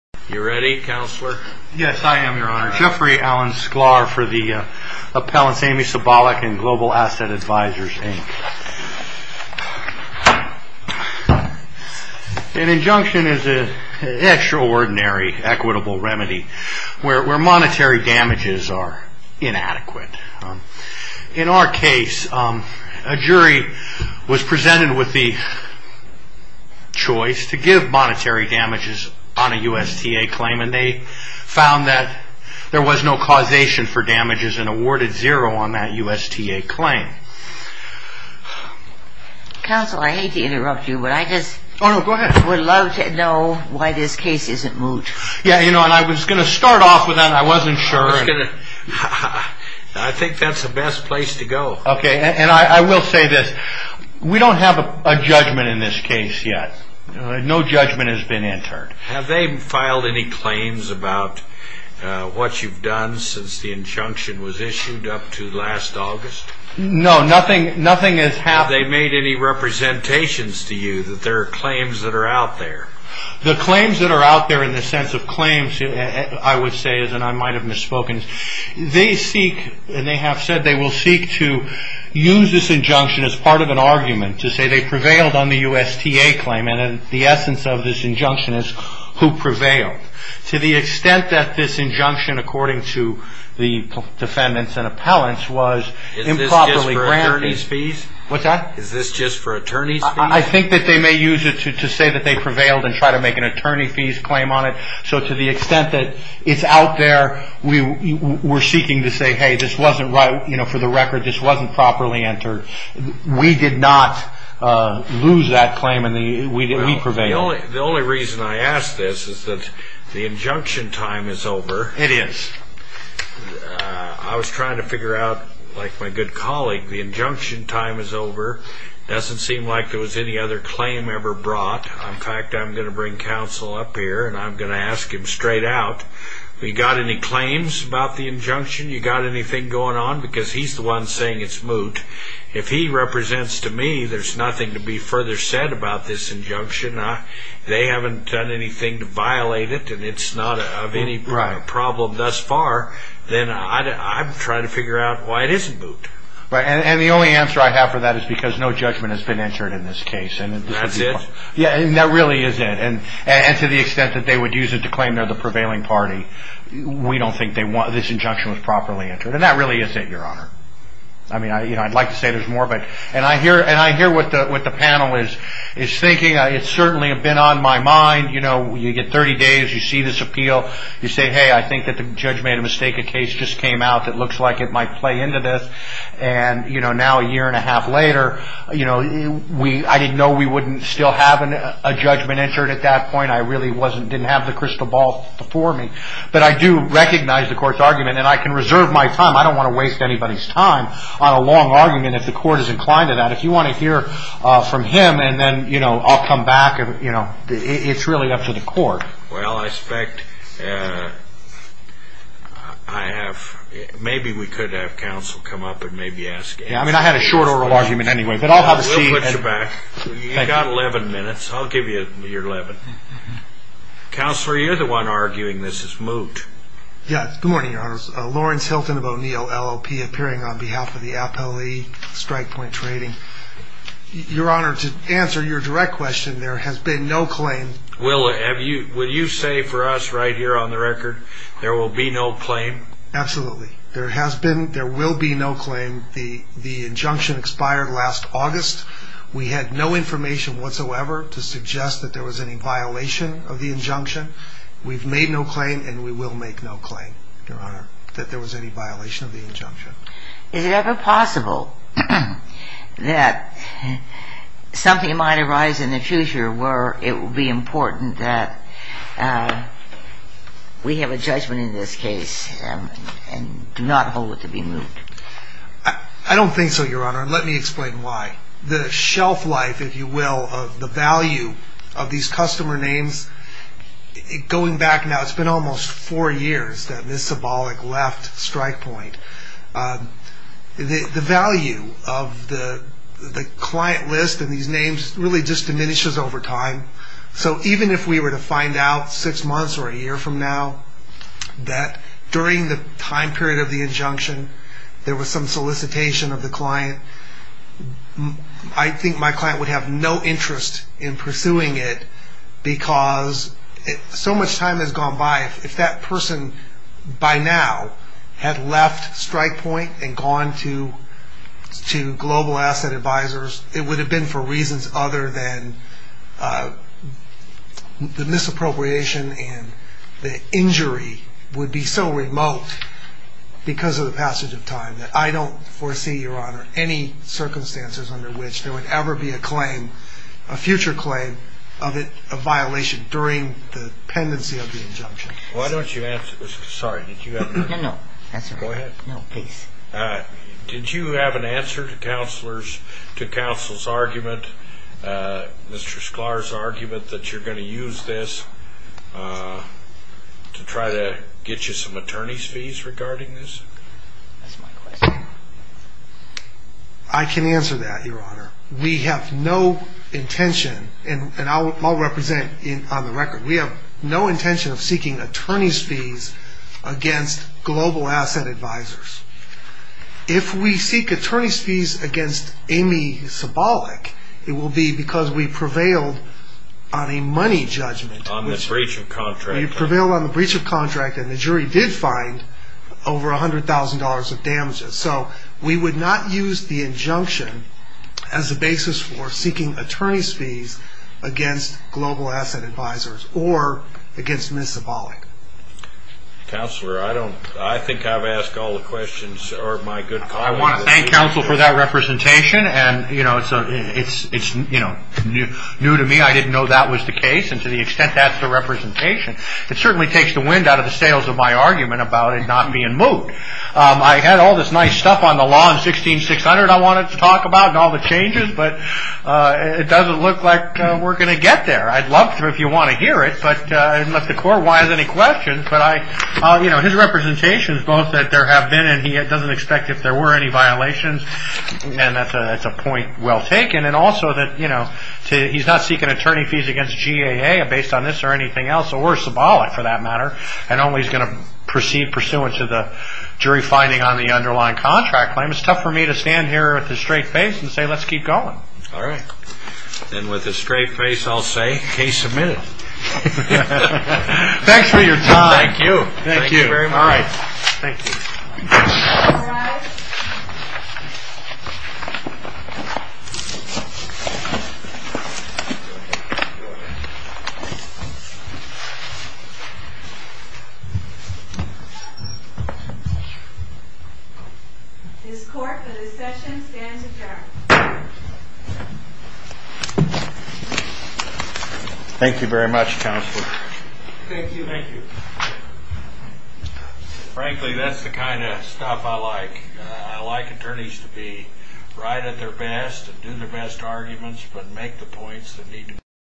You ready, Counselor? Yes, I am, Your Honor. Jeffrey Allen Sklar for the Appellants Aimee Sabolyk and Global Asset Advisors, Inc. An injunction is an extraordinary equitable remedy where monetary damages are inadequate. In our case, a jury was presented with the choice to give monetary damages on a USTA claim and they found that there was no causation for damages and awarded zero on that USTA claim. Counsel, I hate to interrupt you, but I just would love to know why this case isn't moved. I was going to start off with that and I wasn't sure. I think that's the best place to go. Okay, and I will say this. We don't have a judgment in this case yet. No judgment has been entered. Have they filed any claims about what you've done since the injunction was issued up to last August? No, nothing has happened. Have they made any representations to you that there are claims that are out there? The claims that are out there in the sense of claims, I would say, and I might have misspoken, they seek and they have said they will seek to use this injunction as part of an argument to say they prevailed on the USTA claim. And the essence of this injunction is who prevailed. To the extent that this injunction, according to the defendants and appellants, was improperly granted. Is this just for attorney's fees? Is this just for attorney's fees? I think that they may use it to say that they prevailed and try to make an attorney fees claim on it. So to the extent that it's out there, we're seeking to say, hey, this wasn't right. You know, for the record, this wasn't properly entered. We did not lose that claim and we prevailed. The only reason I ask this is that the injunction time is over. It is. I was trying to figure out, like my good colleague, the injunction time is over. Doesn't seem like there was any other claim ever brought. In fact, I'm going to bring counsel up here and I'm going to ask him straight out. You got any claims about the injunction? You got anything going on? Because he's the one saying it's moot. If he represents to me, there's nothing to be further said about this injunction. They haven't done anything to violate it and it's not of any problem thus far. Then I'm trying to figure out why it isn't moot. And the only answer I have for that is because no judgment has been entered in this case. That's it? Yeah, that really is it. And to the extent that they would use it to claim they're the prevailing party, we don't think this injunction was properly entered. And that really is it, Your Honor. I mean, I'd like to say there's more. And I hear what the panel is thinking. It's certainly been on my mind. You know, you get 30 days. You see this appeal. You say, hey, I think that the judge made a mistake. The case just came out that looks like it might play into this. And now a year and a half later, I didn't know we wouldn't still have a judgment entered at that point. I really didn't have the crystal ball before me. But I do recognize the court's argument. And I can reserve my time. I don't want to waste anybody's time on a long argument if the court is inclined to that. If you want to hear from him and then I'll come back, it's really up to the court. Well, I expect I have ‑‑ maybe we could have counsel come up and maybe ask. Yeah, I mean, I had a short oral argument anyway. But I'll have a seat. We'll put you back. You've got 11 minutes. I'll give you your 11. Counselor, you're the one arguing this is moot. Yeah, good morning, Your Honor. Lawrence Hilton of O'Neill, LLP, appearing on behalf of the Appellee Strike Point Trading. Your Honor, to answer your direct question, there has been no claim. Will you say for us right here on the record there will be no claim? Absolutely. There has been ‑‑ there will be no claim. The injunction expired last August. We had no information whatsoever to suggest that there was any violation of the injunction. We've made no claim and we will make no claim, Your Honor, that there was any violation of the injunction. Is it ever possible that something might arise in the future where it will be important that we have a judgment in this case and do not hold it to be moot? I don't think so, Your Honor, and let me explain why. The shelf life, if you will, of the value of these customer names, going back now, it's been almost four years, this symbolic left strike point, the value of the client list and these names really just diminishes over time. So even if we were to find out six months or a year from now that during the time period of the injunction there was some solicitation of the client, I think my client would have no interest in pursuing it because so much time has gone by. If that person by now had left strike point and gone to global asset advisors, it would have been for reasons other than the misappropriation and the injury would be so remote because of the passage of time. I don't foresee, Your Honor, any circumstances under which there would ever be a claim, a future claim of a violation during the pendency of the injunction. Why don't you answer, sorry, did you have an answer? No, no, that's all right. Go ahead. No, please. Did you have an answer to counsel's argument, Mr. Sklar's argument that you're going to use this to try to get you some attorney's fees regarding this? That's my question. I can answer that, Your Honor. We have no intention, and I'll represent on the record, we have no intention of seeking attorney's fees against global asset advisors. If we seek attorney's fees against Amy Cibolic, it will be because we prevailed on a money judgment. On the breach of contract. We prevailed on the breach of contract, and the jury did find over $100,000 of damages. So we would not use the injunction as a basis for seeking attorney's fees against global asset advisors or against Ms. Cibolic. Counselor, I think I've asked all the questions. I want to thank counsel for that representation, and it's new to me. I didn't know that was the case, and to the extent that's the representation, it certainly takes the wind out of the sails of my argument about it not being moved. I had all this nice stuff on the law in 16-600 I wanted to talk about and all the changes, but it doesn't look like we're going to get there. I'd love to if you want to hear it, but I didn't let the court wise any questions. But his representation is both that there have been and he doesn't expect if there were any violations, and that's a point well taken. And also that he's not seeking attorney fees against GAA based on this or anything else, or Cibolic for that matter. And only he's going to proceed pursuant to the jury finding on the underlying contract claim. It's tough for me to stand here with a straight face and say let's keep going. All right. And with a straight face I'll say case submitted. Thanks for your time. Thank you. Thank you very much. All right. Thank you. All rise. This court for this session stands adjourned. Thank you very much, Counselor. Thank you. Thank you. Frankly, that's the kind of stuff I like. I like attorneys to be right at their best and do their best arguments but make the points that need to be made.